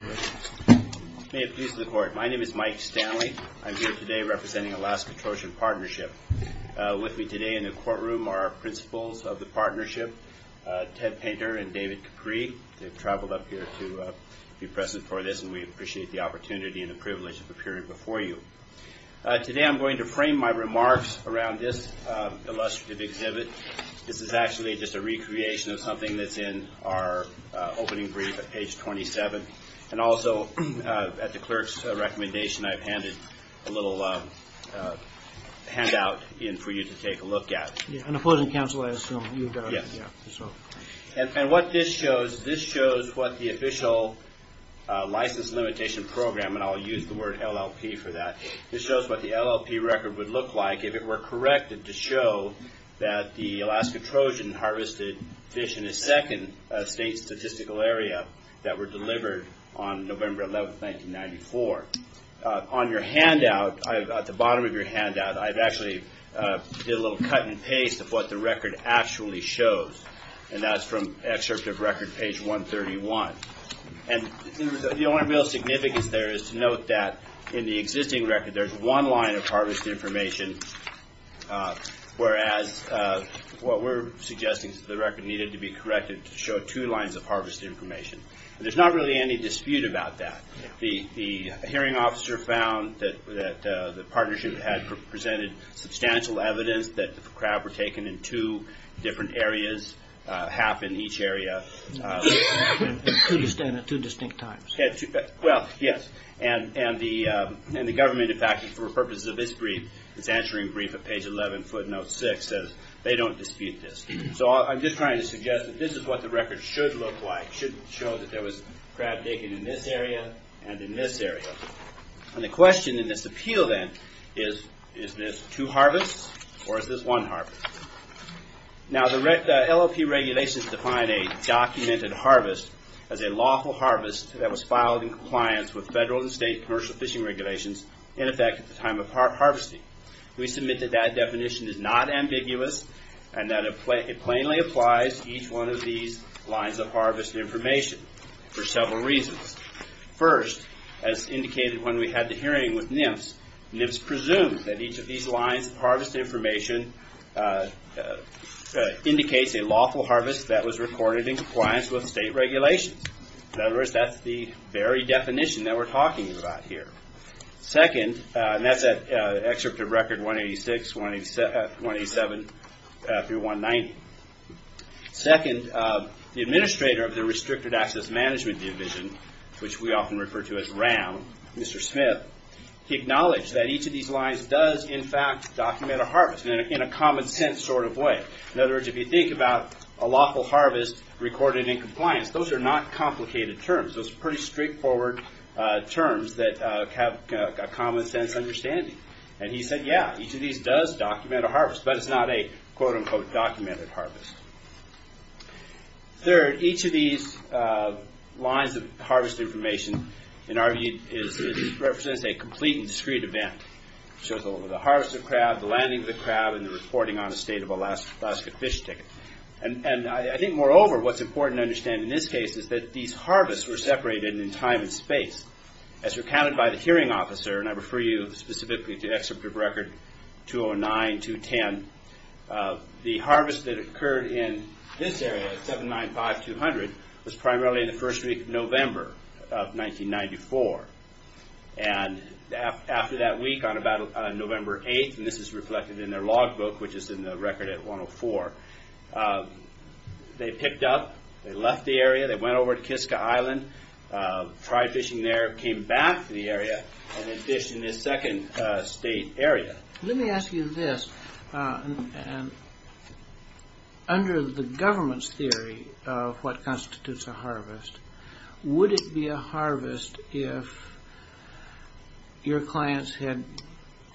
May it please the Court. My name is Mike Stanley. I'm here today representing Alaska-Trojan Partnership. With me today in the courtroom are our Principals of the Partnership, Ted Painter and David Capri. They've traveled up here to be present for this and we appreciate the opportunity and the privilege of appearing before you. Today I'm going to frame my remarks around this illustrative exhibit. This is actually just a recreation of something that's in our opening brief at page 27. And also at the Clerk's recommendation I've handed a little handout in for you to take a look at. And what this shows, this shows what the official license limitation program, and I'll use the word LLP for that, this shows what the LLP record would look like if it were corrected to show that the Alaska-Trojan harvested fish in the second state statistical area that were delivered on November 11, 1994. On your handout, at the bottom of your handout, I've actually did a little cut and paste of what the record actually shows. And that's from excerpt of record page 131. And the only real significance there is to note that in the existing record there's one line of harvest information, whereas what we're suggesting is that the record needed to be corrected to show two lines of harvest information. There's not really any dispute about that. The hearing officer found that the partnership had presented substantial evidence that the crab were taken in two different areas, half in each area. At two distinct times. Well, yes. And the government, in fact, for purposes of this brief, is answering brief at page 11, footnote 6, says they don't dispute this. So I'm just trying to suggest that this is what the record should look like, should show that there was crab taken in this area and in this area. And the question in this appeal then is, is this two harvests or is this one harvest? Now the LOP regulations define a documented harvest as a lawful harvest that was filed in compliance with federal and state commercial fishing regulations in effect at the time of harvesting. We submit that that definition is not ambiguous and that it plainly applies to each one of these lines of harvest information for several reasons. First, as indicated when we had the hearing with NMFS, NMFS presumed that each of these lines of harvest information indicates a lawful harvest that was recorded in compliance with state regulations. In other words, that's the very definition that we're talking about here. Second, and that's at Excerpt of Record 186, 187 through 190. Second, the administrator of the Restricted Access Management Division, which we often refer to as RAM, Mr. Smith, he acknowledged that each of these lines does in fact document a harvest in a common sense sort of way. In other words, if you think about a lawful harvest recorded in compliance, those are not complicated terms. Those are pretty straightforward terms that have a common sense understanding. And he said, yeah, each of these does document a harvest, but it's not a quote unquote documented harvest. Third, each of these lines of harvest information, in our view, represents a complete and discrete event. So the harvest of crab, the landing of the crab, and the reporting on a state of Alaska fish ticket. And I think moreover, what's important to understand in this case is that these harvests were separated in time and space. As recounted by the hearing officer, and I refer you specifically to Excerpt of Record 209, 210, the harvest that occurred in this area, 795, 200, was primarily in the first week of November of 1994. And after that week, on about November 8th, and this is reflected in their log book, which is in the record at 104, they picked up, they left the area, they went over to Kiska Island, tried fishing there, came back to the area, and then fished in this second state area. Let me ask you this. Under the government's theory of what constitutes a harvest, would it be a harvest if your clients had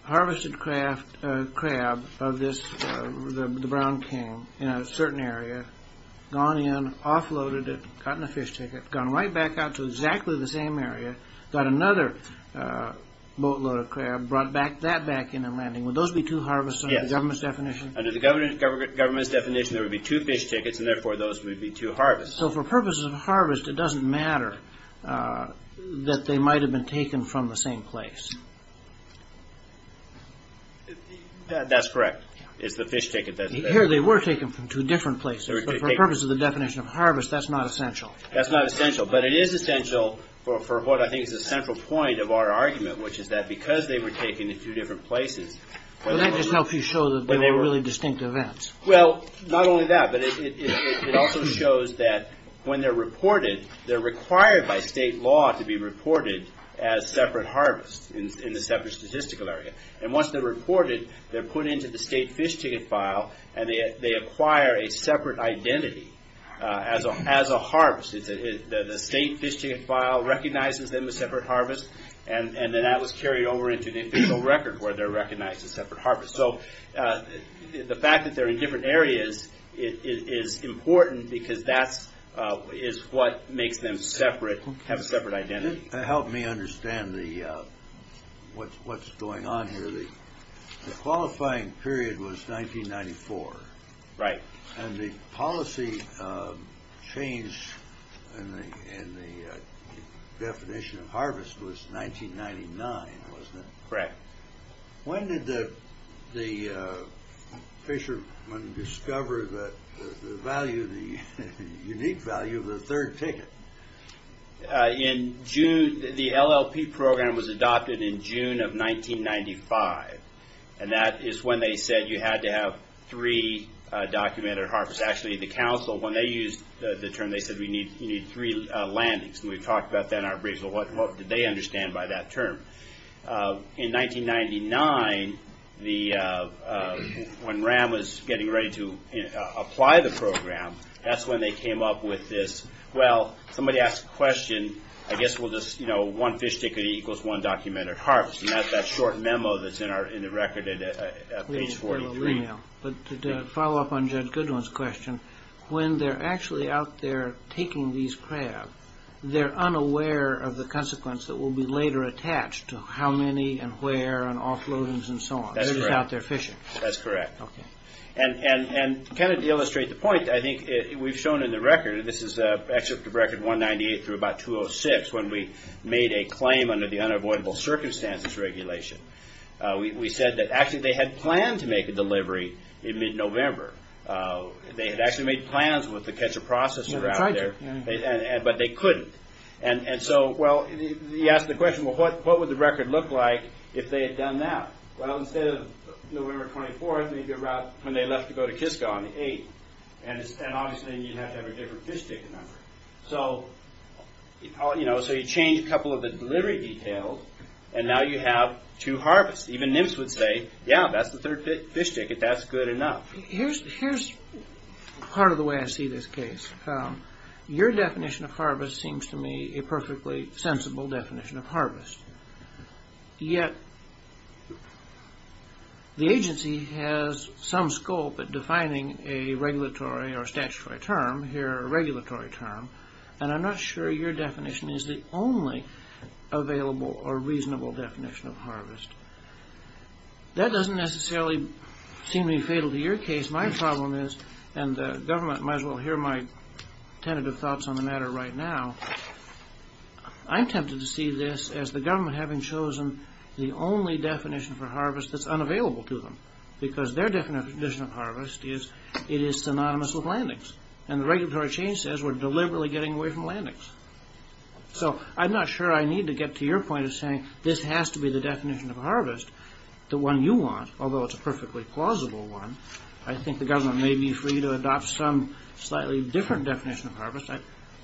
harvested crab of this, the brown king, in a certain area, gone in, offloaded it, gotten a fish ticket, gone right back out to exactly the same area, got another boatload of crab, brought that back in and landing. Would those be two harvests under the government's definition? Yes. Under the government's definition, there would be two fish tickets, and therefore, those would be two harvests. So for purposes of harvest, it doesn't matter that they might have been taken from the same place. That's correct. It's the fish ticket. Here they were taken from two different places, but for purposes of the definition of harvest, that's not essential. That's not essential, but it is essential for what I think is the central point of our argument, which is that because they were taken to two different places... Would that just help you show that they were really distinct events? Well, not only that, but it also shows that when they're reported, they're required by state law to be reported as separate harvests in the separate statistical area. And once they're reported, they're put into the state fish ticket file, and they acquire a separate identity as a harvest. The state fish ticket file recognizes them as separate harvests, and then that was carried over into the official record where they're recognized as separate harvests. So the fact that they're in different areas is important because that is what makes them have a separate identity. It helped me understand what's going on here. The qualifying period was 1994. Right. And the policy change in the definition of harvest was 1999, wasn't it? Correct. When did the fishermen discover the unique value of the third ticket? The LLP program was adopted in June of 1995, and that is when they said you had to have three documented harvests. Actually, the council, when they used the term, they said you need three landings, and we talked about that in our briefs. What did they understand by that term? In 1999, when RAM was getting ready to apply the program, that's when they came up with this, well, somebody asked a question, I guess we'll just, you know, one fish ticket equals one documented harvest, and that's that short memo that's in the record at page 43. But to follow up on Judge Goodwin's question, when they're actually out there taking these crab, they're unaware of the consequence that will be later attached to how many and where and offloadings and so on. That's correct. They're just out there fishing. That's correct. Okay. And to kind of illustrate the point, I think we've shown in the record, this is Excerpt of Record 198 through about 206, when we made a claim under the Unavoidable Circumstances Regulation. We said that actually they had planned to make a delivery in mid-November. They had actually made plans with the catcher processor out there. They tried to. But they couldn't. And so, well, he asked the question, well, what would the record look like if they had done that? Well, instead of November 24th, when they left to go to Kiska on the 8th, and obviously you'd have to have a different fish ticket number. So, you know, so you change a couple of the delivery details, and now you have two harvests. Even NIMS would say, yeah, that's the third fish ticket, that's good enough. Here's part of the way I see this case. Your definition of harvest seems to me a perfectly sensible definition of harvest. Yet the agency has some scope at defining a regulatory or statutory term, here a regulatory term, and I'm not sure your definition is the only available or reasonable definition of harvest. That doesn't necessarily seem to be fatal to your case. My problem is, and the government might as well hear my tentative thoughts on the matter right now, I'm tempted to see this as the government having chosen the only definition for harvest that's unavailable to them. Because their definition of harvest is it is synonymous with landings. And the regulatory chain says we're deliberately getting away from landings. So I'm not sure I need to get to your point of saying this has to be the definition of harvest, the one you want, although it's a perfectly plausible one. I think the government may be free to adopt some slightly different definition of harvest.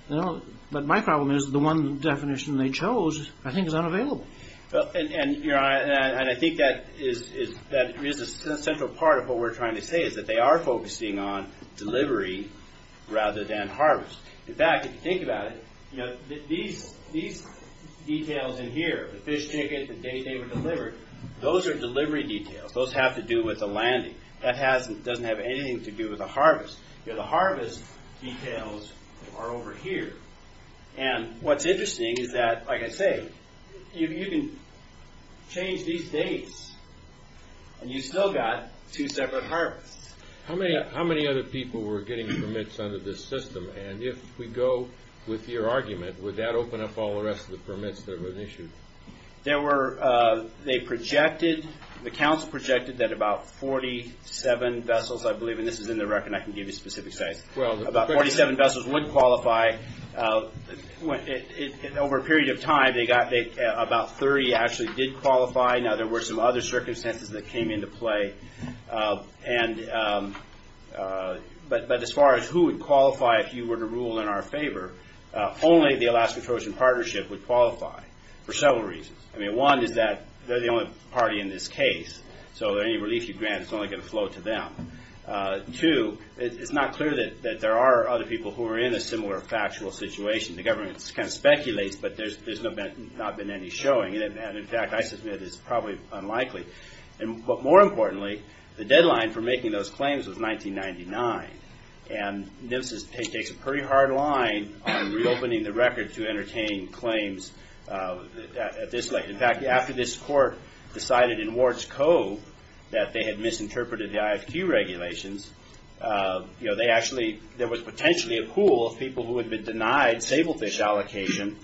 But my problem is the one definition they chose I think is unavailable. And I think that is a central part of what we're trying to say, is that they are focusing on delivery rather than harvest. In fact, if you think about it, these details in here, the fish ticket, the date they were delivered, those are delivery details. Those have to do with the landing. That doesn't have anything to do with the harvest. The harvest details are over here. And what's interesting is that, like I say, you can change these dates, and you've still got two separate harvests. How many other people were getting permits under this system? And if we go with your argument, would that open up all the rest of the permits that were issued? They projected, the council projected that about 47 vessels, I believe, and this is in the record and I can give you specific size, about 47 vessels would qualify. Over a period of time, about 30 actually did qualify. Now, there were some other circumstances that came into play. But as far as who would qualify if you were to rule in our favor, only the Alaska Trojan Partnership would qualify for several reasons. One is that they're the only party in this case, so any relief you grant is only going to flow to them. Two, it's not clear that there are other people who are in a similar factual situation. The government speculates, but there's not been any showing. In fact, I submit it's probably unlikely. But more importantly, the deadline for making those claims was 1999. And NMFSS takes a pretty hard line on reopening the record to entertain claims. In fact, after this court decided in Ward's Cove that they had misinterpreted the IFQ regulations, there was potentially a pool of people who had been denied sablefish allocation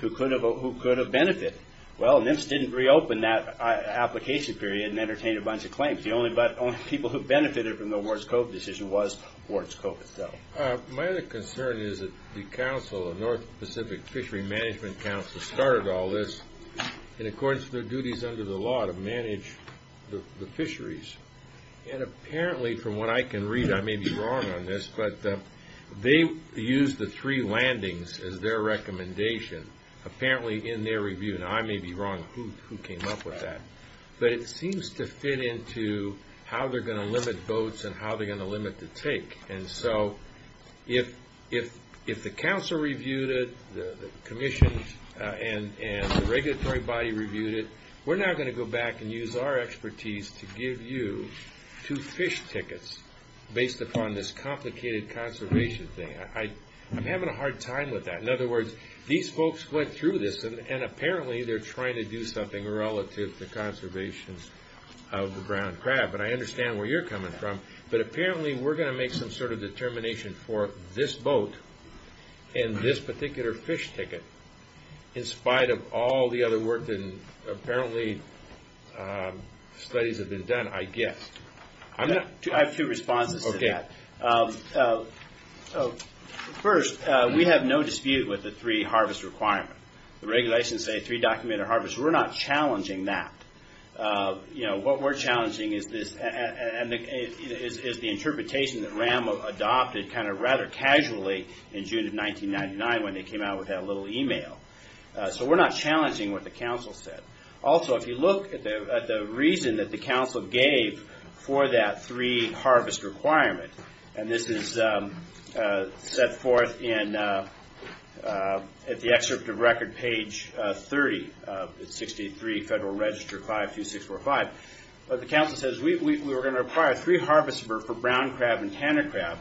who could have benefited. Well, NMFSS didn't reopen that application period and entertain a bunch of claims. The only people who benefited from the Ward's Cove decision was Ward's Cove itself. My other concern is that the council, the North Pacific Fishery Management Council, started all this in accordance with their duties under the law to manage the fisheries. And apparently, from what I can read, I may be wrong on this, but they used the three landings as their recommendation apparently in their review. Now, I may be wrong. Who came up with that? But it seems to fit into how they're going to limit boats and how they're going to limit the take. And so if the council reviewed it, the commission and the regulatory body reviewed it, we're now going to go back and use our expertise to give you two fish tickets based upon this complicated conservation thing. I'm having a hard time with that. In other words, these folks went through this, and apparently they're trying to do something relative to conservation of the ground crab. And I understand where you're coming from, but apparently we're going to make some sort of determination for this boat and this particular fish ticket in spite of all the other work that apparently studies have been done, I guess. I have two responses to that. First, we have no dispute with the three harvest requirement. The regulations say three documented harvests. We're not challenging that. You know, what we're challenging is the interpretation that RAM adopted kind of rather casually in June of 1999 when they came out with that little email. So we're not challenging what the council said. Also, if you look at the reason that the council gave for that three harvest requirement, and this is set forth at the excerpt of record page 30 of 63 Federal Register 52645, the council says we were going to require three harvests for brown crab and tanner crab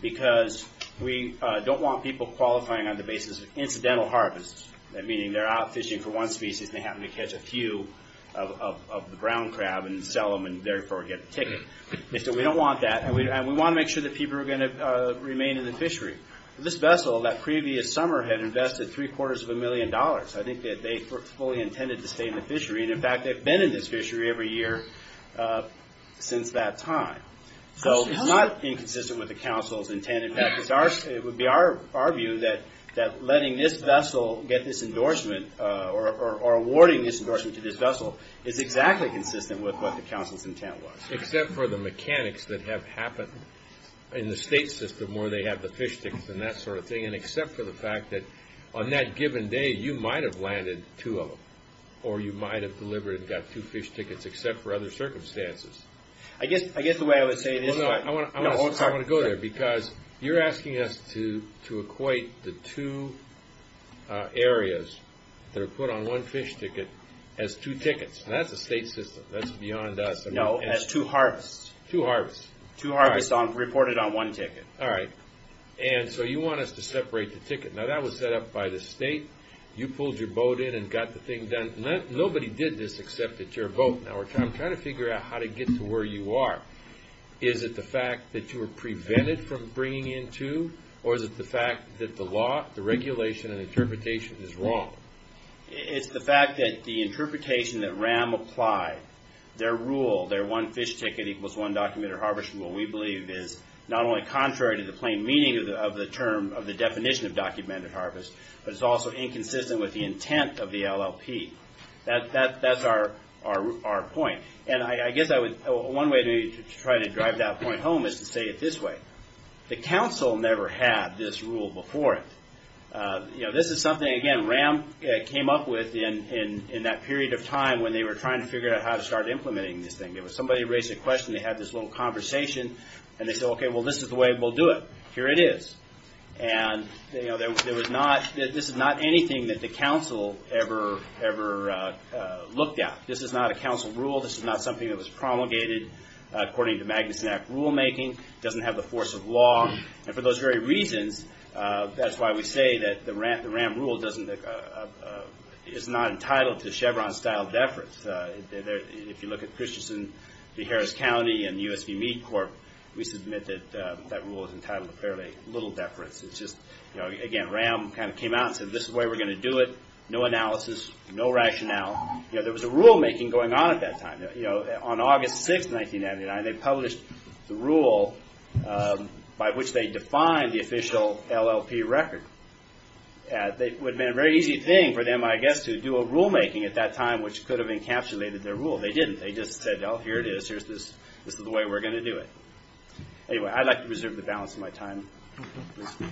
because we don't want people qualifying on the basis of incidental harvests, meaning they're out fishing for one species and they happen to catch a few of the brown crab and sell them and therefore get the ticket. So we don't want that, and we want to make sure that people are going to remain in the fishery. This vessel, that previous summer, had invested three-quarters of a million dollars. I think that they fully intended to stay in the fishery, and in fact they've been in this fishery every year since that time. So it's not inconsistent with the council's intent. It would be our view that letting this vessel get this endorsement or awarding this endorsement to this vessel is exactly consistent with what the council's intent was. Except for the mechanics that have happened in the state system where they have the fish tickets and that sort of thing, and except for the fact that on that given day you might have landed two of them, or you might have delivered and got two fish tickets except for other circumstances. I guess the way I would say it is... I want to go there because you're asking us to equate the two areas that are put on one fish ticket as two tickets, and that's the state system. That's beyond us. No, as two harvests. Two harvests. Two harvests reported on one ticket. All right. And so you want us to separate the ticket. Now that was set up by the state. You pulled your boat in and got the thing done. Nobody did this except at your boat. Now we're trying to figure out how to get to where you are. Is it the fact that you were prevented from bringing in two, or is it the fact that the law, the regulation, and interpretation is wrong? It's the fact that the interpretation that RAM applied, their rule, their one fish ticket equals one documented harvest rule, we believe is not only contrary to the plain meaning of the term, of the definition of documented harvest, but it's also inconsistent with the intent of the LLP. That's our point. And I guess one way to try to drive that point home is to say it this way. The council never had this rule before. This is something, again, RAM came up with in that period of time when they were trying to figure out how to start implementing this thing. It was somebody raised a question, they had this little conversation, and they said, okay, well, this is the way we'll do it. Here it is. And this is not anything that the council ever looked at. This is not a council rule. This is not something that was promulgated according to Magnuson Act rulemaking. It doesn't have the force of law. And for those very reasons, that's why we say that the RAM rule is not entitled to Chevron-style deference. If you look at Christianson v. Harris County and the U.S.V. Meat Corp., we submit that that rule is entitled to fairly little deference. Again, RAM kind of came out and said, this is the way we're going to do it. No analysis, no rationale. There was a rulemaking going on at that time. On August 6, 1999, they published the rule by which they defined the official LLP record. It would have been a very easy thing for them, I guess, to do a rulemaking at that time which could have encapsulated their rule. They didn't. They just said, oh, here it is. This is the way we're going to do it. Anyway, I'd like to preserve the balance of my time. Thank you.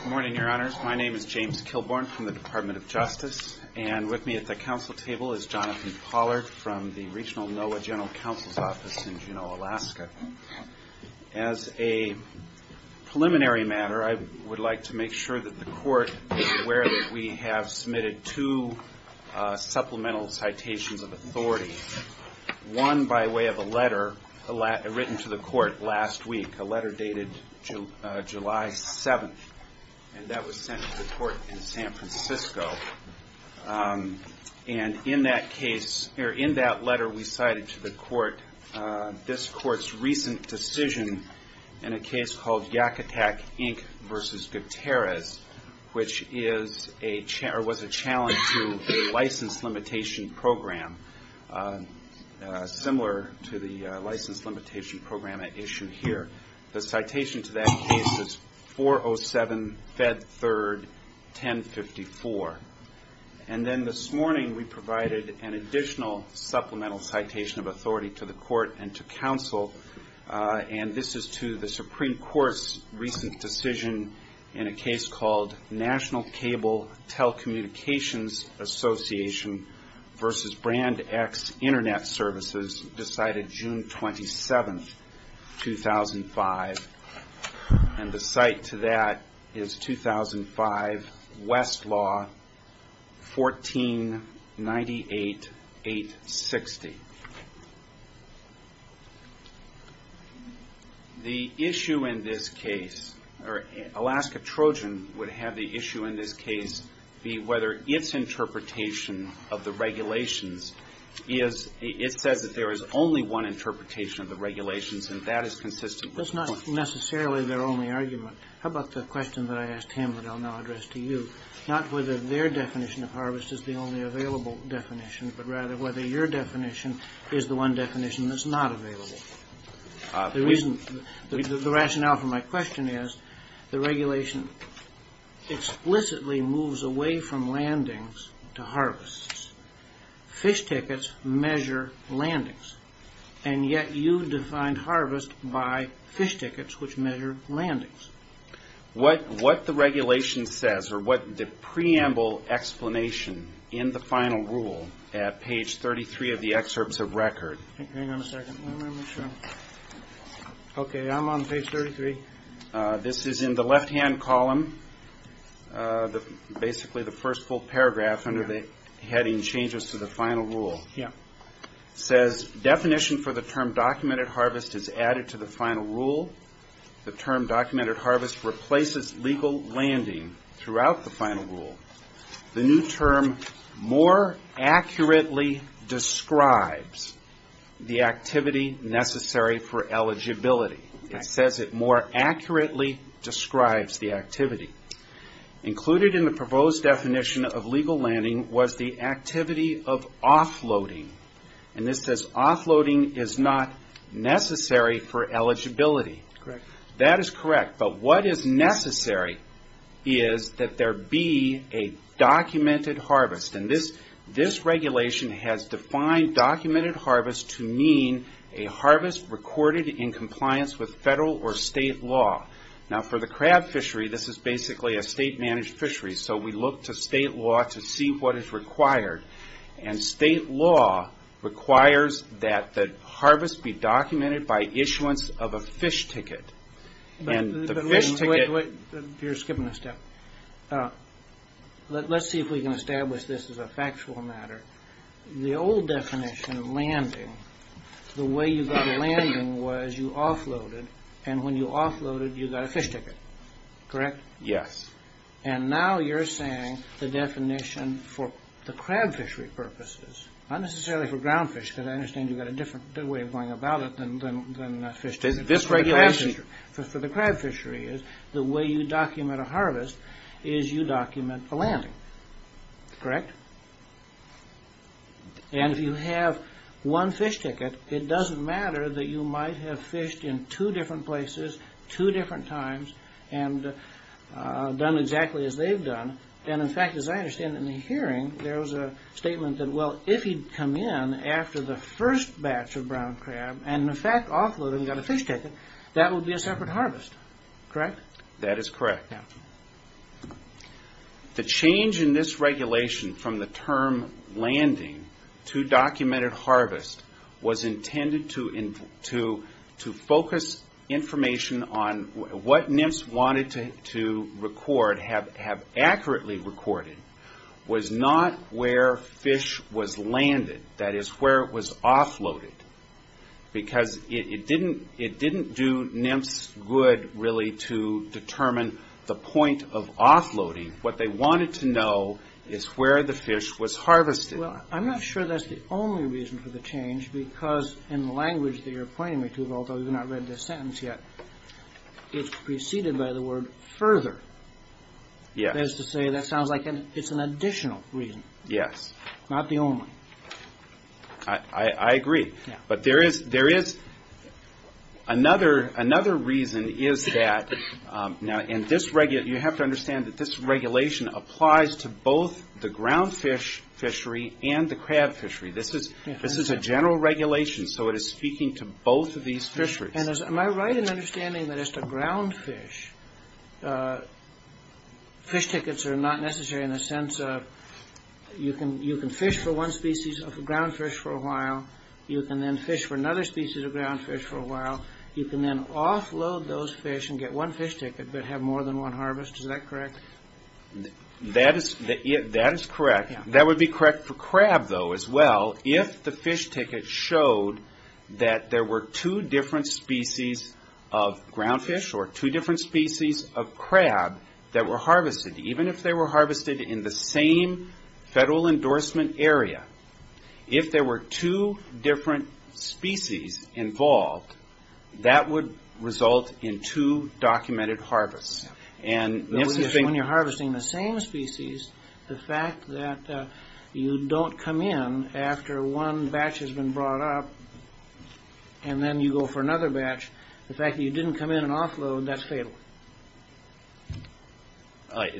Good morning, Your Honors. My name is James Kilborn from the Department of Justice. And with me at the council table is Jonathan Pollard from the Regional NOAA General Counsel's Office in Juneau, Alaska. As a preliminary matter, I would like to make sure that the Court is aware that we have submitted two supplemental citations of authority, one by way of a letter written to the Court last week, a letter dated July 7, and that was sent to the Court in San Francisco. And in that case, or in that letter, we cited to the Court this Court's recent decision in a case called Yakutak, Inc. v. Gutierrez, which was a challenge to the license limitation program, similar to the license limitation program at issue here. The citation to that case is 407 Fed 3rd 1054. And then this morning, we provided an additional supplemental citation of authority to the Court and to counsel, and this is to the Supreme Court's recent decision in a case called National Cable Telecommunications Association v. Brand X Internet Services, decided June 27, 2005. And the cite to that is 2005 Westlaw 1498-860. The issue in this case, or Alaska Trojan would have the issue in this case be whether its interpretation of the regulations is, it says that there is only one interpretation of the regulations, and that is consistent with the Court. That's not necessarily their only argument. How about the question that I asked him that I'll now address to you, not whether their definition of harvest is the only available definition, but rather whether your definition is the one definition that's not available? The rationale for my question is the regulation explicitly moves away from landings to harvests. Fish tickets measure landings, and yet you defined harvest by fish tickets, which measure landings. What the regulation says, or what the preamble explanation in the final rule at page 33 of the excerpts of record. Hang on a second. Okay, I'm on page 33. This is in the left-hand column, basically the first full paragraph under the heading, Changes to the Final Rule. It says, definition for the term documented harvest is added to the final rule. The term documented harvest replaces legal landing throughout the final rule. The new term more accurately describes the activity necessary for eligibility. It says it more accurately describes the activity. Included in the proposed definition of legal landing was the activity of offloading, and this says offloading is not necessary for eligibility. That is correct, but what is necessary is that there be a documented harvest. This regulation has defined documented harvest to mean a harvest recorded in compliance with federal or state law. For the crab fishery, this is basically a state-managed fishery, so we look to state law to see what is required. State law requires that the harvest be documented by issuance of a fish ticket. You're skipping a step. Let's see if we can establish this as a factual matter. The old definition of landing, the way you got a landing was you offloaded, and when you offloaded, you got a fish ticket, correct? Yes. And now you're saying the definition for the crab fishery purposes, not necessarily for ground fish because I understand you've got a different way of going about it than a fish ticket. This regulation for the crab fishery is the way you document a harvest is you document a landing, correct? And if you have one fish ticket, it doesn't matter that you might have fished in two different places, two different times, and done exactly as they've done. And, in fact, as I understand in the hearing, there was a statement that, well, if he'd come in after the first batch of brown crab and, in fact, offloaded and got a fish ticket, that would be a separate harvest, correct? That is correct. The change in this regulation from the term landing to documented harvest was intended to focus information on what NIMS wanted to record, have accurately recorded, was not where fish was landed, that is where it was offloaded, because it didn't do NIMS good really to determine the point of offloading. What they wanted to know is where the fish was harvested. Well, I'm not sure that's the only reason for the change because in the language that you're pointing me to, although you've not read the sentence yet, it's preceded by the word further. That is to say that sounds like it's an additional reason, not the only. I agree, but there is another reason is that, and you have to understand that this regulation applies to both the ground fish fishery and the crab fishery. This is a general regulation, so it is speaking to both of these fisheries. Am I right in understanding that as to ground fish, fish tickets are not necessary in the sense of you can fish for one species of ground fish for a while, you can then fish for another species of ground fish for a while, you can then offload those fish and get one fish ticket but have more than one harvest, is that correct? That is correct. That would be correct for crab though as well. If the fish ticket showed that there were two different species of ground fish or two different species of crab that were harvested, even if they were harvested in the same federal endorsement area, if there were two different species involved, that would result in two documented harvests. When you're harvesting the same species, the fact that you don't come in after one batch has been brought up and then you go for another batch, the fact that you didn't come in and offload, that's fatal. I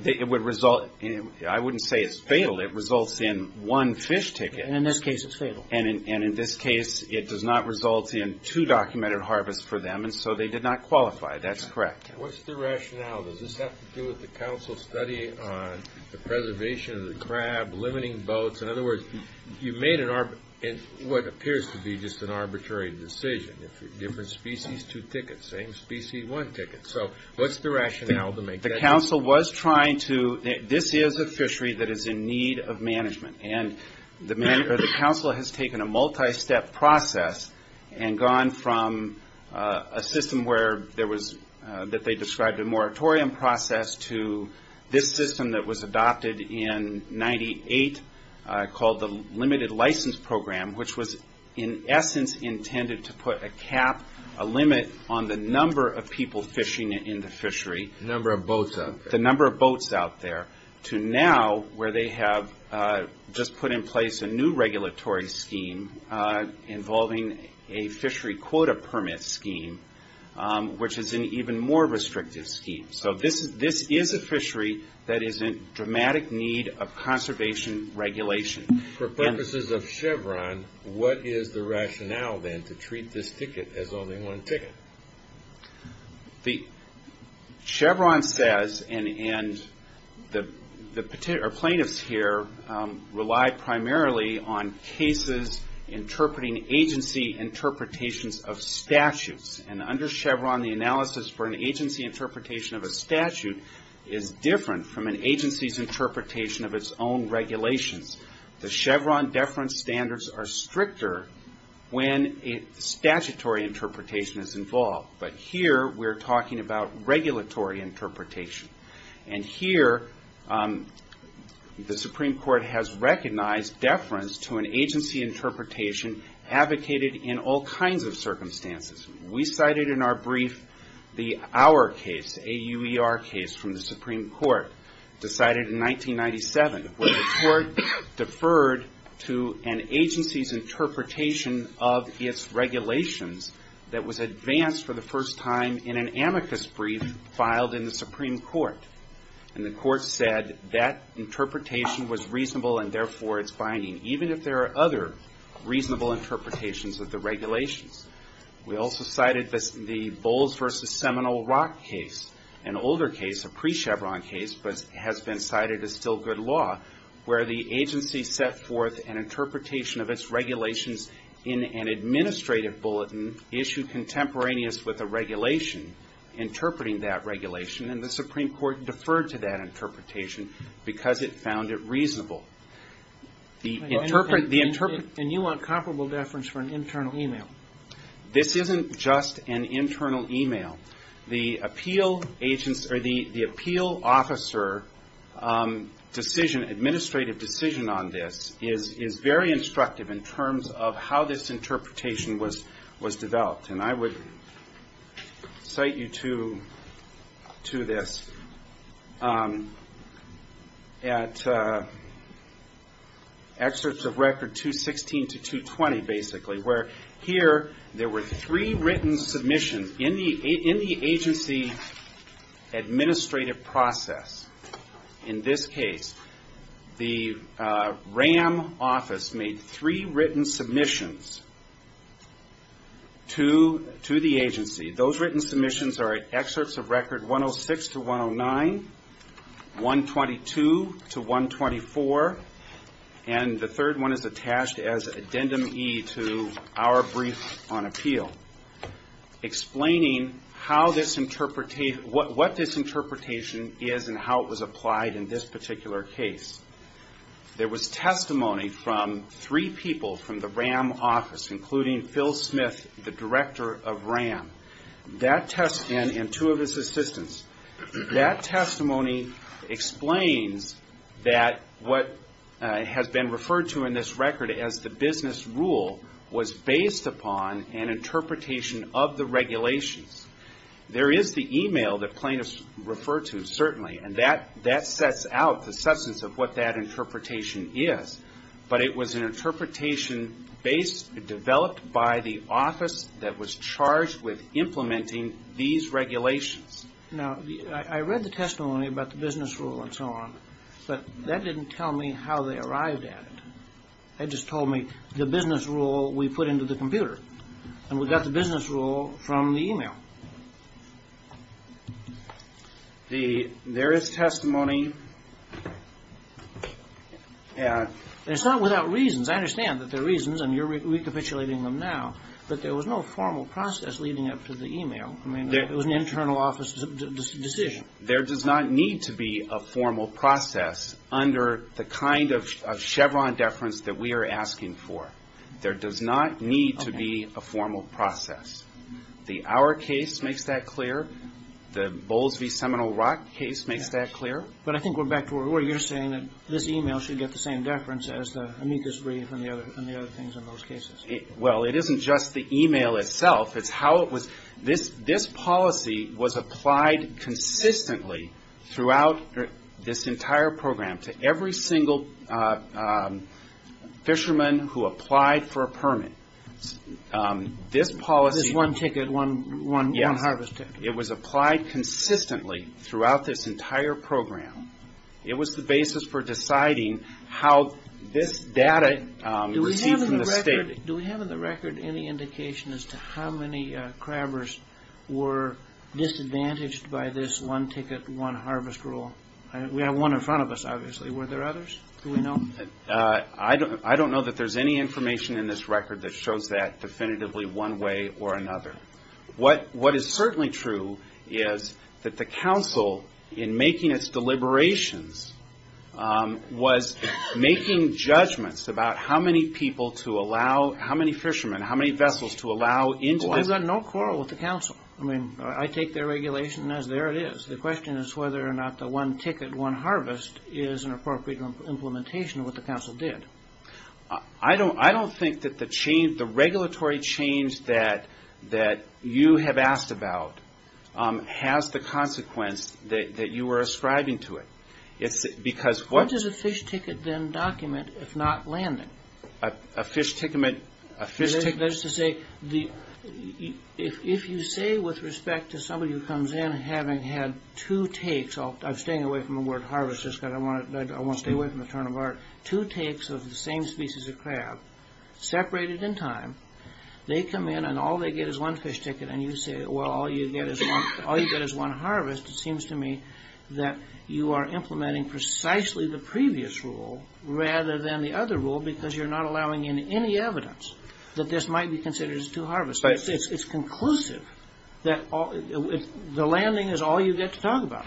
wouldn't say it's fatal, it results in one fish ticket. In this case it's fatal. In this case it does not result in two documented harvests for them, so they did not qualify, that's correct. What's the rationale? Does this have to do with the council's study on the preservation of the crab, limiting boats? In other words, you made what appears to be just an arbitrary decision. Different species, two tickets. Same species, one ticket. What's the rationale to make that decision? The council was trying to, this is a fishery that is in need of management. The council has taken a multi-step process and gone from a system that they described a moratorium process to this system that was adopted in 1998 called the Limited License Program, which was in essence intended to put a cap, a limit, on the number of people fishing in the fishery. The number of boats out there. To now, where they have just put in place a new regulatory scheme involving a fishery quota permit scheme, which is an even more restrictive scheme. This is a fishery that is in dramatic need of conservation regulation. For purposes of Chevron, what is the rationale then to treat this ticket as only one ticket? Chevron says, and the plaintiffs here rely primarily on cases interpreting agency interpretations of statutes. Under Chevron, the analysis for an agency interpretation of a statute is different from an agency's interpretation of its own regulations. The Chevron deference standards are stricter when a statutory interpretation is involved. But here, we're talking about regulatory interpretation. And here, the Supreme Court has recognized deference to an agency interpretation advocated in all kinds of circumstances. We cited in our brief our case, AUER case from the Supreme Court, decided in 1997. Where the court deferred to an agency's interpretation of its regulations that was advanced for the first time in an amicus brief filed in the Supreme Court. And the court said that interpretation was reasonable and therefore it's binding. Even if there are other reasonable interpretations of the regulations. We also cited the Bowles v. Seminole Rock case. An older case, a pre-Chevron case, but has been cited as still good law. Where the agency set forth an interpretation of its regulations in an administrative bulletin issued contemporaneous with a regulation, interpreting that regulation. And the Supreme Court deferred to that interpretation because it found it reasonable. And you want comparable deference for an internal email? This isn't just an internal email. The appeal officer decision, administrative decision on this, is very instructive in terms of how this interpretation was developed. And I would cite you to this. At excerpts of record 216 to 220, basically. Where here there were three written submissions in the agency administrative process. In this case, the RAM office made three written submissions to the agency. Those written submissions are at excerpts of record 106 to 109, 122 to 124. And the third one is attached as addendum E to our brief on appeal. Explaining what this interpretation is and how it was applied in this particular case. There was testimony from three people from the RAM office, including Phil Smith, the director of RAM. And two of his assistants. That testimony explains that what has been referred to in this record as the business rule, was based upon an interpretation of the regulations. There is the email that plaintiffs refer to, certainly. And that sets out the substance of what that interpretation is. But it was an interpretation developed by the office that was charged with implementing these regulations. Now, I read the testimony about the business rule and so on. But that didn't tell me how they arrived at it. That just told me the business rule we put into the computer. And we got the business rule from the email. Now, there is testimony. And it's not without reasons. I understand that there are reasons, and you're recapitulating them now. But there was no formal process leading up to the email. I mean, it was an internal office decision. There does not need to be a formal process under the kind of Chevron deference that we are asking for. There does not need to be a formal process. The Our case makes that clear. The Bowles v. Seminole Rock case makes that clear. But I think we're back to where you're saying that this email should get the same deference as the amicus brief and the other things in those cases. Well, it isn't just the email itself. It's how it was. This policy was applied consistently throughout this entire program to every single fisherman who applied for a permit. This policy was applied consistently throughout this entire program. It was the basis for deciding how this data received from the state. Do we have in the record any indication as to how many crabbers were disadvantaged by this one-ticket, one-harvest rule? We have one in front of us, obviously. Were there others? Do we know? I don't know that there's any information in this record that shows that definitively one way or another. What is certainly true is that the council, in making its deliberations, was making judgments about how many people to allow, how many fishermen, how many vessels to allow into this. Well, I've got no quarrel with the council. I mean, I take their regulation as there it is. The question is whether or not the one-ticket, one-harvest is an appropriate implementation of what the council did. I don't think that the regulatory change that you have asked about has the consequence that you were ascribing to it. What does a fish ticket then document if not landing? A fish ticket? That is to say, if you say with respect to somebody who comes in having had two takes, I'm staying away from the word harvest just because I want to stay away from the term of art, two takes of the same species of crab, separated in time, they come in and all they get is one fish ticket and you say, well, all you get is one harvest, it seems to me that you are implementing precisely the previous rule rather than the other rule because you're not allowing in any evidence that this might be considered as two harvests. It's conclusive that the landing is all you get to talk about.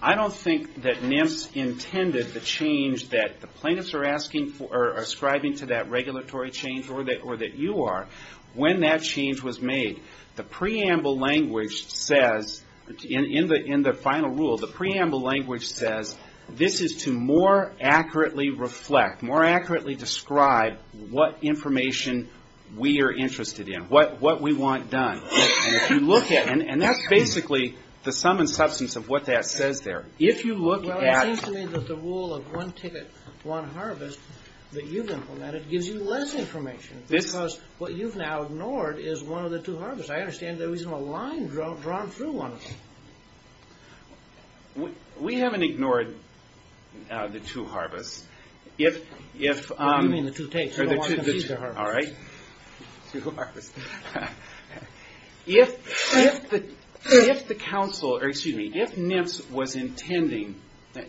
I don't think that NIMS intended the change that the plaintiffs are ascribing to that regulatory change, or that you are, when that change was made. The preamble language says, in the final rule, the preamble language says this is to more accurately reflect, more accurately describe what information we are interested in, what we want done. And that's basically the sum and substance of what that says there. It seems to me that the rule of one ticket, one harvest that you've implemented gives you less information because what you've now ignored is one of the two harvests. I understand there isn't a line drawn through one of them. We haven't ignored the two harvests. What do you mean the two takes? You don't want to confuse the harvests. All right. If the council, or excuse me, if NIMS was intending,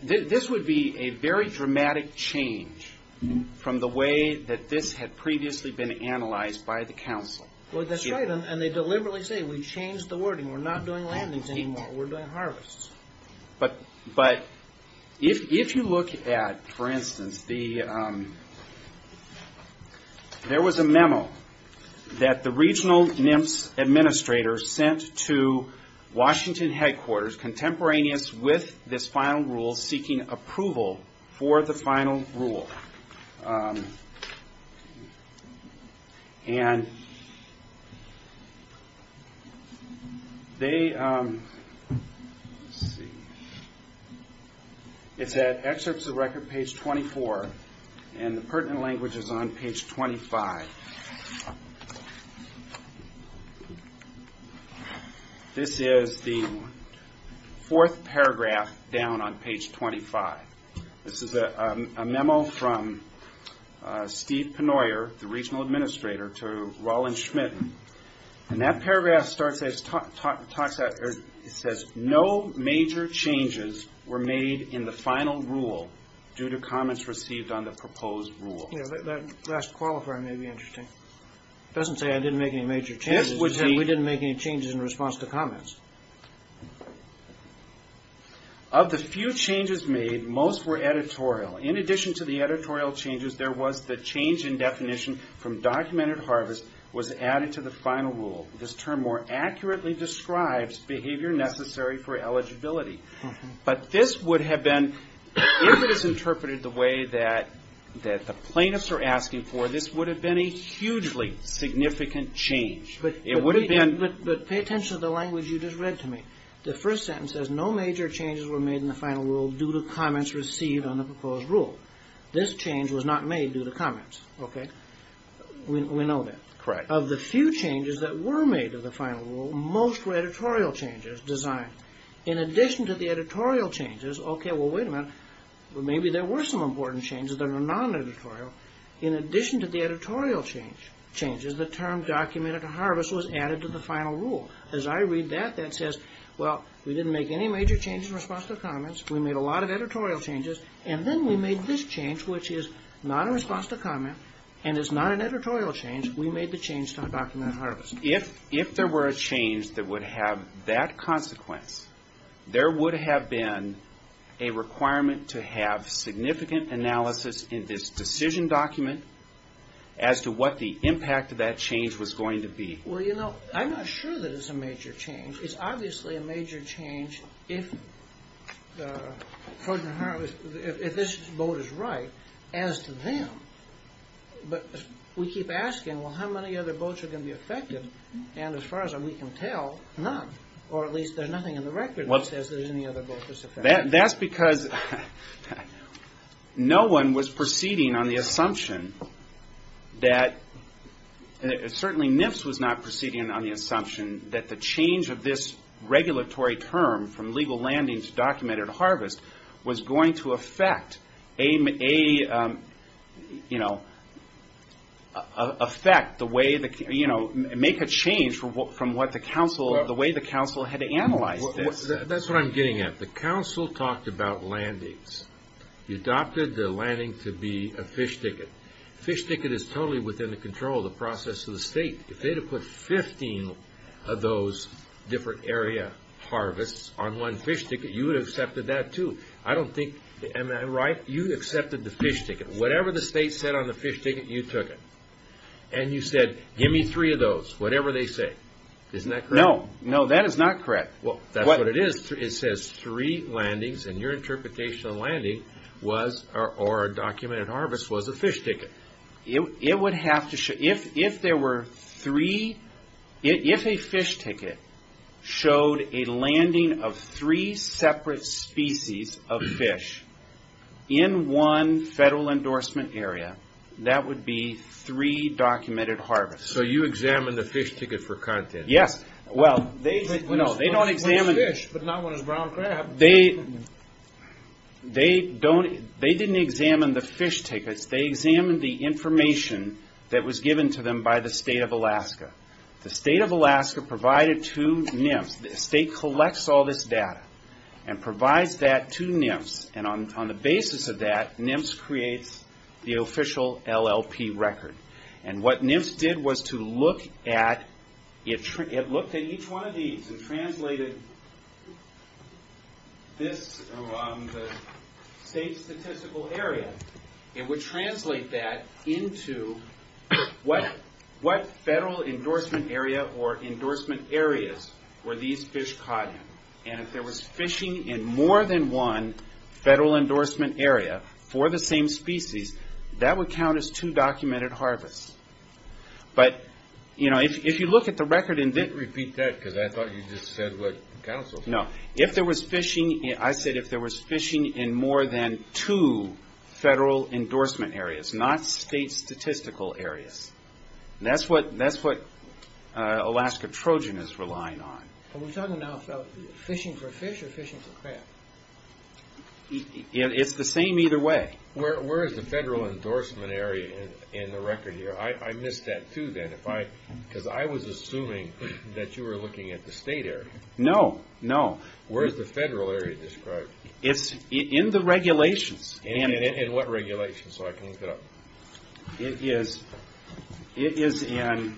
this would be a very dramatic change from the way that this had previously been analyzed by the council. That's right, and they deliberately say we changed the wording. We're not doing landings anymore, we're doing harvests. But if you look at, for instance, there was a memo that the regional NIMS administrator sent to Washington headquarters, contemporaneous with this final rule, seeking approval for the final rule. It's at excerpts of record page 24, and the pertinent language is on page 25. This is the fourth paragraph down on page 25. This is a memo from Steve Penoyer, the regional administrator, to Roland Schmitten, and that paragraph says no major changes were made in the final rule due to comments received on the proposed rule. That last qualifier may be interesting. It doesn't say I didn't make any major changes, but we didn't make any changes in response to comments. Of the few changes made, most were editorial. In addition to the editorial changes, there was the change in definition from documented harvest was added to the final rule. This term more accurately describes behavior necessary for eligibility. But this would have been, if it is interpreted the way that the plaintiffs are asking for, this would have been a hugely significant change. But pay attention to the language you just read to me. The first sentence says no major changes were made in the final rule due to comments received on the proposed rule. This change was not made due to comments. We know that. Of the few changes that were made to the final rule, most were editorial changes designed. In addition to the editorial changes, the term documented harvest was added to the final rule. As I read that, that says, well, we didn't make any major changes in response to comments. We made a lot of editorial changes, and then we made this change, which is not a response to comment and is not an editorial change. We made the change to undocumented harvest. If there were a change that would have that consequence, there would have been a requirement to have significant analysis in this decision document as to what the impact of that change was going to be. Well, you know, I'm not sure that it's a major change. If this vote is right, as to them, but we keep asking, well, how many other votes are going to be affected? And as far as we can tell, none, or at least there's nothing in the record that says there's any other vote that's affected. That's because no one was proceeding on the assumption that, certainly NIFS was not proceeding on the assumption that the change of this regulatory term from legal landing to documented harvest was going to have an impact. You know, make a change from the way the council had analyzed this. That's what I'm getting at. The council talked about landings. You adopted the landing to be a fish ticket. Fish ticket is totally within the control of the process of the state. If they'd have put 15 of those different area harvests on one fish ticket, you would have accepted that, too. I don't think, am I right? You accepted the fish ticket. Whatever the state said on the fish ticket, you took it. And you said, give me three of those, whatever they say. Isn't that correct? No, that is not correct. That's what it is. It says three landings, and your interpretation of landing or documented harvest was a fish ticket. If a fish ticket showed a landing of three separate species of fish in one federal endorsement area, that would be three different landings. So you examined the fish ticket for content. They didn't examine the fish tickets, they examined the information that was given to them by the state of Alaska. The state of Alaska provided two NIMS, the state collects all this data, and provides that to NIMS. On the basis of that, NIMS creates the official LLP record. What NIMS did was to look at each one of these and translated this around the state's statistical area. It would translate that into what federal endorsement area or endorsement areas were these fish caught in. If there was fishing in more than one federal endorsement area for the same species, that would count as two documented harvests. If you look at the record... I said if there was fishing in more than two federal endorsement areas, not state statistical areas. That's what Alaska Trojan is relying on. Are we talking now about fishing for fish or fishing for crab? It's the same either way. Where is the federal endorsement area in the record here? I missed that too, because I was assuming that you were looking at the state area. No. Where is the federal area described? It's in the regulations. In what regulations? It is in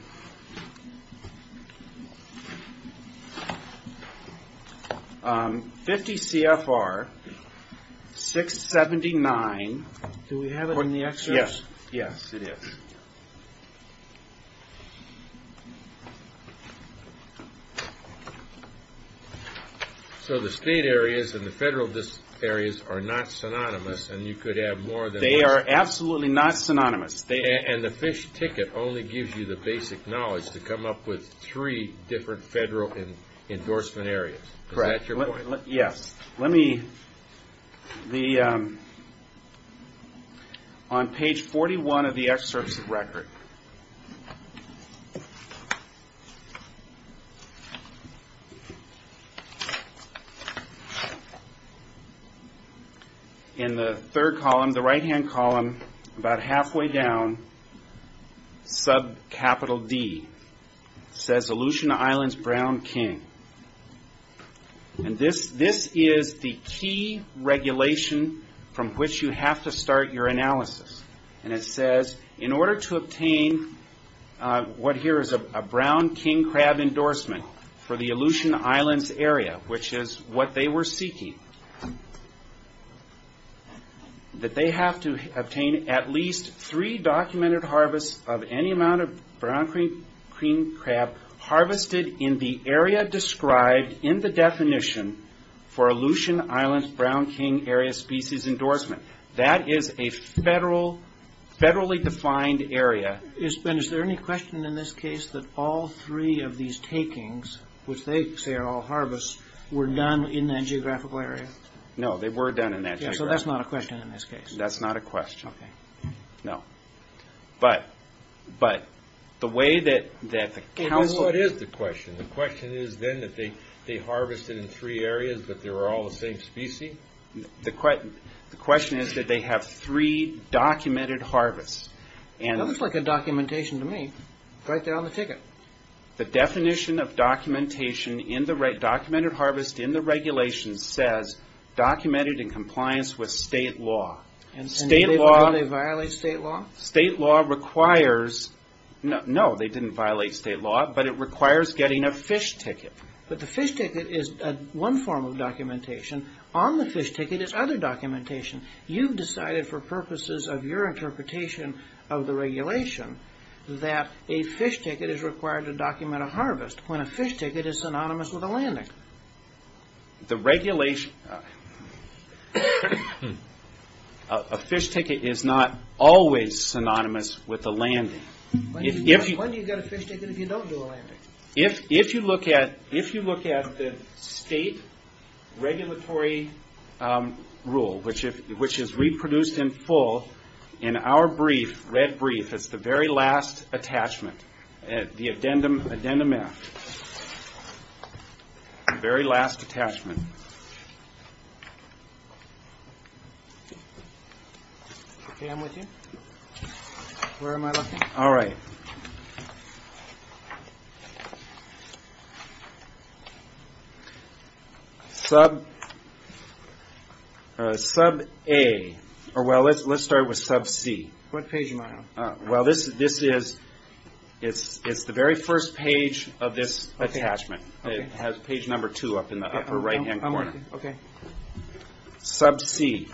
50 CFR 679. Do we have it in the excerpts? Yes, it is. The state areas and the federal areas are not synonymous. They are absolutely not synonymous. The fish ticket only gives you the basic knowledge to come up with three different federal endorsement areas. Is that your point? Yes. On page 41 of the excerpts of record, in the third column, the right hand column, about half way down, subcapital D says Aleutian Islands Brown King. This is the key regulation from which you have to start your analysis. It says in order to obtain what here is a brown king crab endorsement for the Aleutian Islands area, which is what they were seeking, that they have to obtain at least three documented harvests of any amount of brown king crab harvested in the area described in the definition for Aleutian Islands Brown King Area Species Endorsement. That is a federally defined area. Is there any question in this case that all three of these takings, which they say are all harvests, were done in that geographical area? That is not a question in this case. What is the question? The question is that they have three documented harvests. The definition of documented harvest in the regulation says, documented in compliance with state law. State law requires, no they didn't violate state law, but it requires getting a fish ticket. The fish ticket is one form of documentation. On the fish ticket is other documentation. You've decided for purposes of your interpretation of the regulation that a fish ticket is required to document a harvest, when a fish ticket is synonymous with a landing. A fish ticket is not always synonymous with a landing. Why do you get a fish ticket if you don't do a landing? If you look at the state regulatory rule, which is reproduced in full, in our brief, red brief, it's the very last attachment. The addendum F, the very last attachment. Okay, I'm with you. Sub A, or well, let's start with sub C. What page am I on? It's the very first page of this attachment. It has page number two up in the upper right hand corner. Sub C,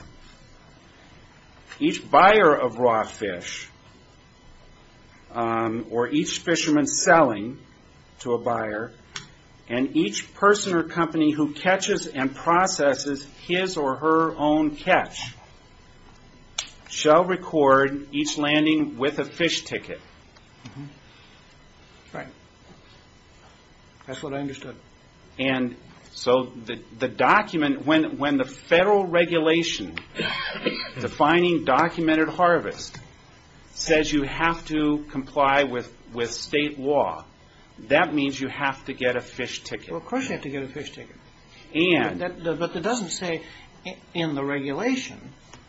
each buyer of raw fish, or each fisherman selling to a buyer, and each person or company who catches and processes his or her own catch, shall record each landing with a fish ticket. That's what I understood. When the federal regulation defining documented harvest says you have to comply with state law, that means you have to get a fish ticket. Well, of course you have to get a fish ticket. But it doesn't say in the regulation,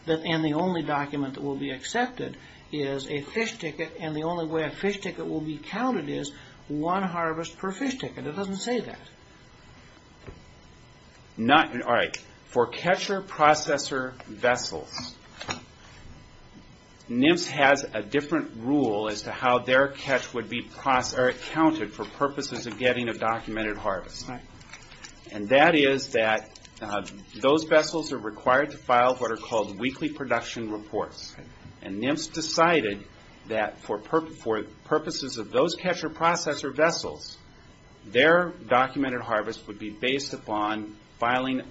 and the only document that will be accepted is a fish ticket, and the only way a fish ticket will be counted is one harvest per fish ticket. It doesn't say that. For catcher processor vessels, NIMS has a different rule as to how their catch would be counted for purposes of getting a documented harvest. And that is that those vessels are required to file what are called weekly production reports. And NIMS decided that for purposes of those catcher processor vessels, their documented harvest would be based upon filing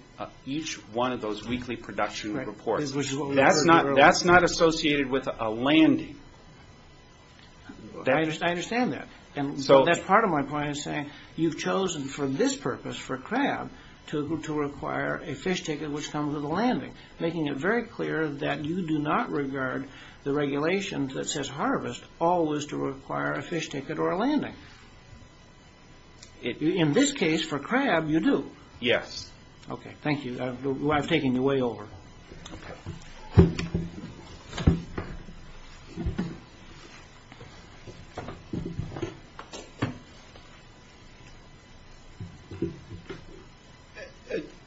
each one of those weekly production reports. That's not associated with a landing. I understand that. That's part of my point in saying you've chosen for this purpose, for crab, to require a fish ticket which comes with a landing, making it very clear that you do not regard the regulation that says harvest always to require a fish ticket or a landing. In this case, for crab, you do. Yes.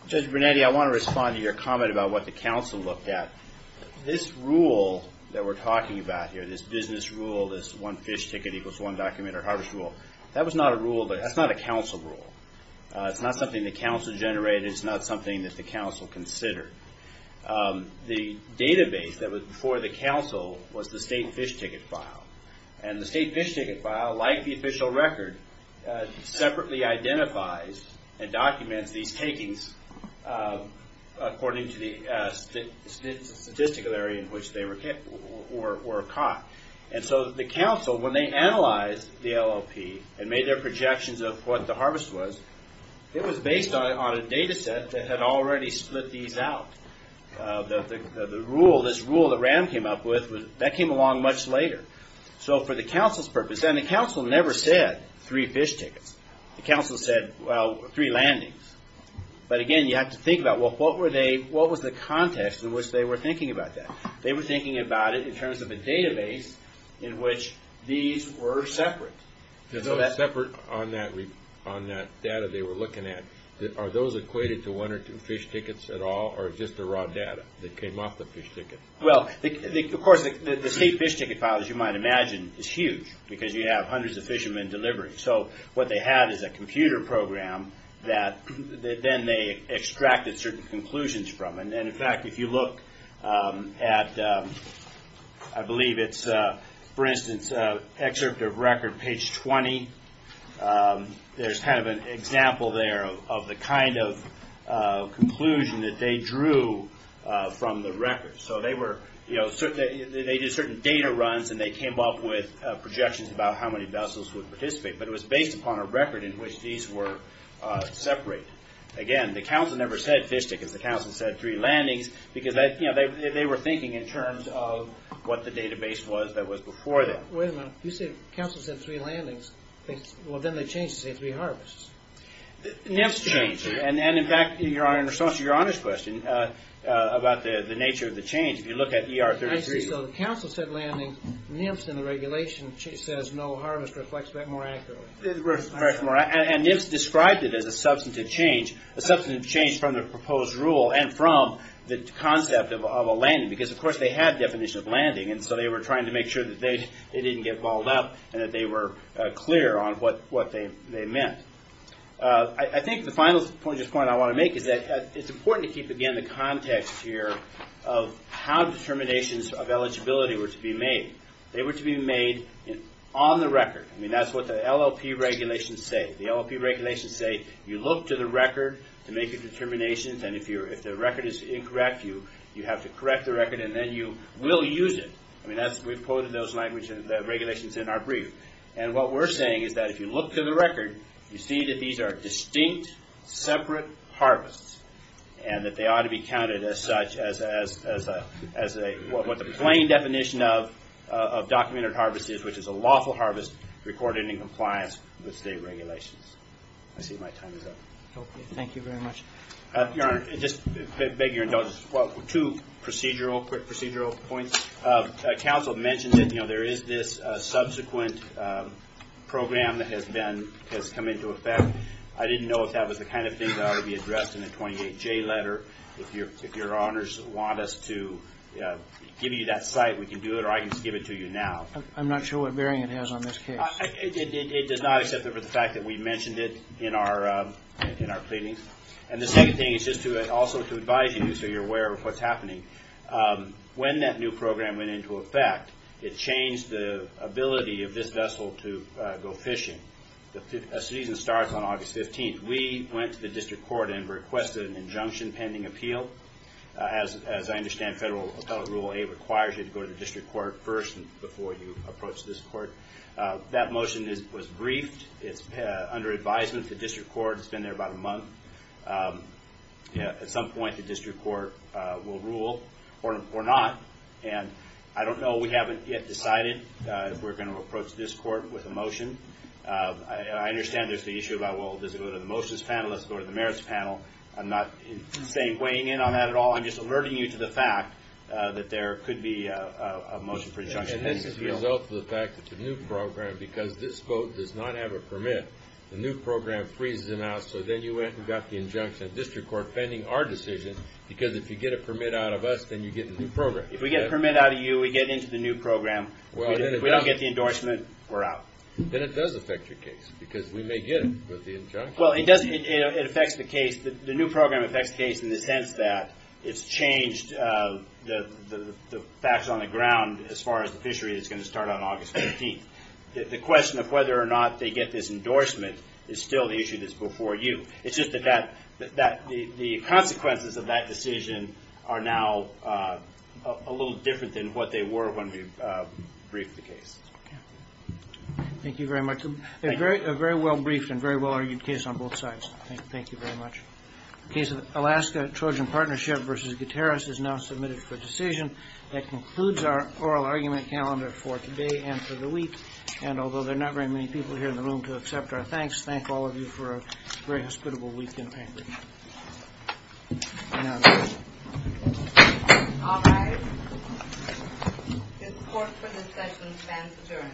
Judge Brunetti, I want to respond to your comment about what the council looked at. This rule that we're talking about here, this business rule, this one fish ticket equals one documented harvest rule, that was not a rule, that's not a council rule. It's not something the council generated, it's not something that the council considered. The database that was before the council was the state fish ticket file. And the state fish ticket file, like the official record, separately identifies and documents these takings according to the statistical area in which they were caught. And so the council, when they analyzed the LLP and made their projections of what the harvest was, it was based on a data set that had already split these out. The rule, this rule that Ram came up with, that came along much later. So for the council's purpose, and the council never said three fish tickets. The council said, well, three landings. But again, you have to think about, what was the context in which they were thinking about that? They were thinking about it in terms of a database in which these were separate. Separate on that data they were looking at. Are those equated to one or two fish tickets at all, or just the raw data that came off the fish ticket? Well, of course, the state fish ticket file, as you might imagine, is huge. Because you have hundreds of fishermen delivering. So what they had is a computer program that then they extracted certain conclusions from. And in fact, if you look at, I believe it's, for instance, excerpt of record page 20, there's kind of an example there of the kind of conclusion that they drew from the record. So they did certain data runs, and they came up with projections about how many vessels would participate. But it was based upon a record in which these were separate. Again, the council never said fish tickets, the council said three landings, because they were thinking in terms of what the database was that was before that. Wait a minute, you say the council said three landings, well then they changed to say three harvests. NIMS changed, and in fact, in response to your honest question about the nature of the change, if you look at ER 33. I see, so the council said landings, NIMS and the regulation says no harvest reflects that more accurately. And NIMS described it as a substantive change, a substantive change from the proposed rule, and from the concept of a landing, because of course they had definition of landing, and so they were trying to make sure that they didn't get balled up, and that they were clear on what they meant. I think the final point I want to make is that it's important to keep again the context here of how determinations of eligibility were to be made. They were to be made on the record. I mean, that's what the LLP regulations say. You look to the record to make a determination, and if the record is incorrect, you have to correct the record, and then you will use it. And what we're saying is that if you look to the record, you see that these are distinct separate harvests, and that they ought to be counted as such, as what the plain definition of documented harvest is, which is a lawful harvest recorded in compliance with state regulations. I see my time is up. Two quick procedural points. Council mentioned that there is this subsequent program that has come into effect. I didn't know if that was the kind of thing that ought to be addressed in the 28J letter. If your honors want us to give you that site, we can do it, or I can just give it to you now. I'm not sure what bearing it has on this case. It does not, except for the fact that we mentioned it in our pleadings. And the second thing is just also to advise you so you're aware of what's happening. When that new program went into effect, it changed the ability of this vessel to go fishing. The season starts on August 15th. We went to the district court and requested an injunction pending appeal. As I understand, Federal Appellate Rule 8 requires you to go to the district court first before you approach this court. That motion was briefed. Under advisement, the district court has been there about a month. At some point, the district court will rule or not. I don't know. We haven't yet decided if we're going to approach this court with a motion. I understand there's the issue about, well, does it go to the motions panel? Does it go to the merits panel? I'm not weighing in on that at all. I'm just alerting you to the fact that there could be a motion for injunction. And this is a result of the fact that the new program, because this boat does not have a permit, the new program freezes it out so then you went and got the injunction of the district court pending our decision because if you get a permit out of us, then you get the new program. If we get a permit out of you, we get into the new program. If we don't get the endorsement, we're out. Then it does affect your case because we may get it with the injunction. Well, it affects the case. The new program affects the case in the sense that it's changed the facts on the ground as far as the fishery is going to start on August 15th. The question of whether or not they get this endorsement is still the issue that's before you. It's just that the consequences of that decision are now a little different than what they were when we briefed the case. Thank you very much. A very well-briefed and very well-argued case on both sides. Thank you very much. The case of Alaska Trojan Partnership v. Gutierrez is now submitted for decision. That concludes our oral argument calendar for today and for the week. And although there are not very many people here in the room to accept our thanks, thank all of you for a very hospitable week in Anchorage. All rise. This court for discussion stands adjourned.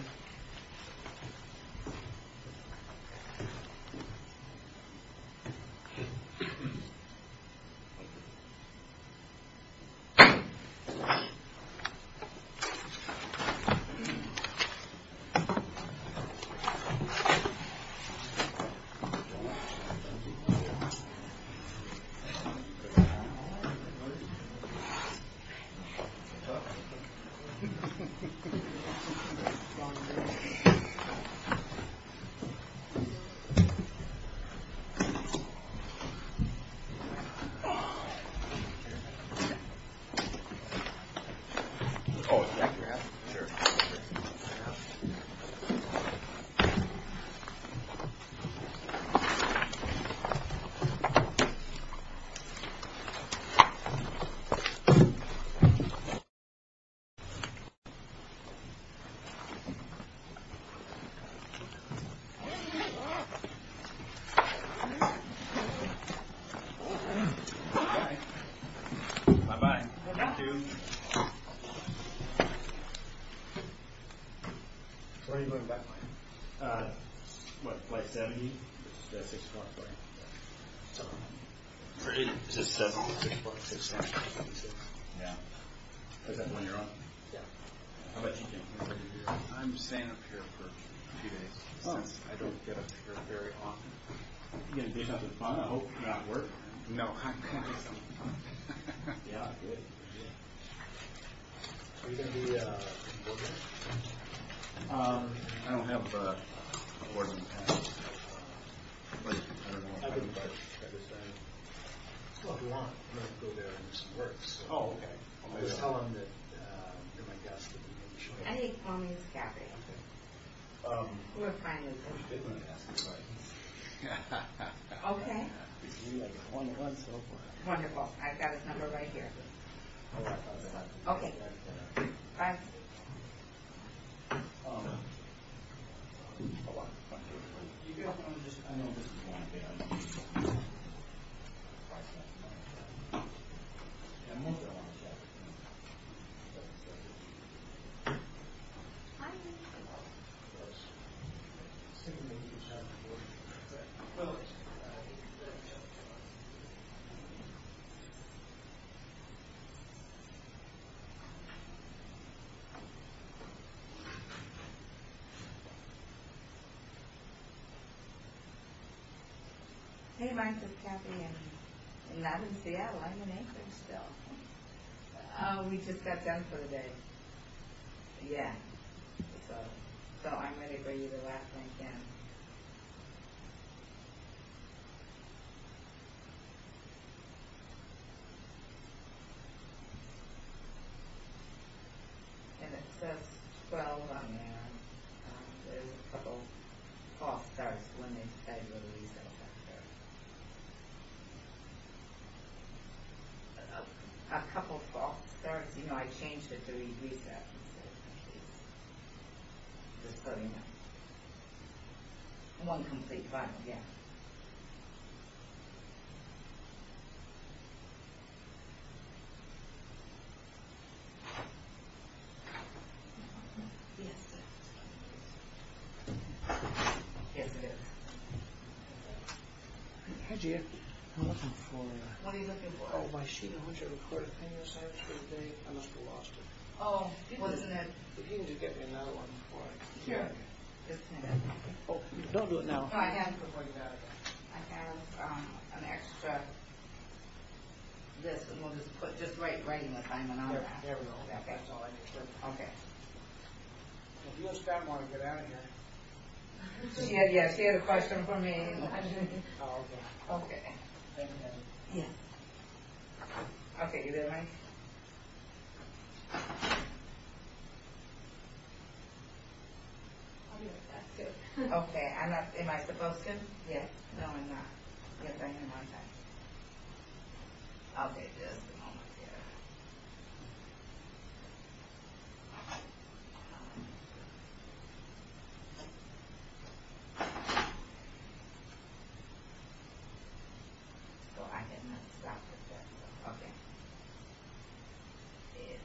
Thank you. Thank you. Thank you. Thank you. Thank you. Thank you. Thank you. Thank you. Thank you. Thank you. Thank you. Thank you. Yes it is. Yes. Yes. Yes. Okay. Okay. Okay. Okay.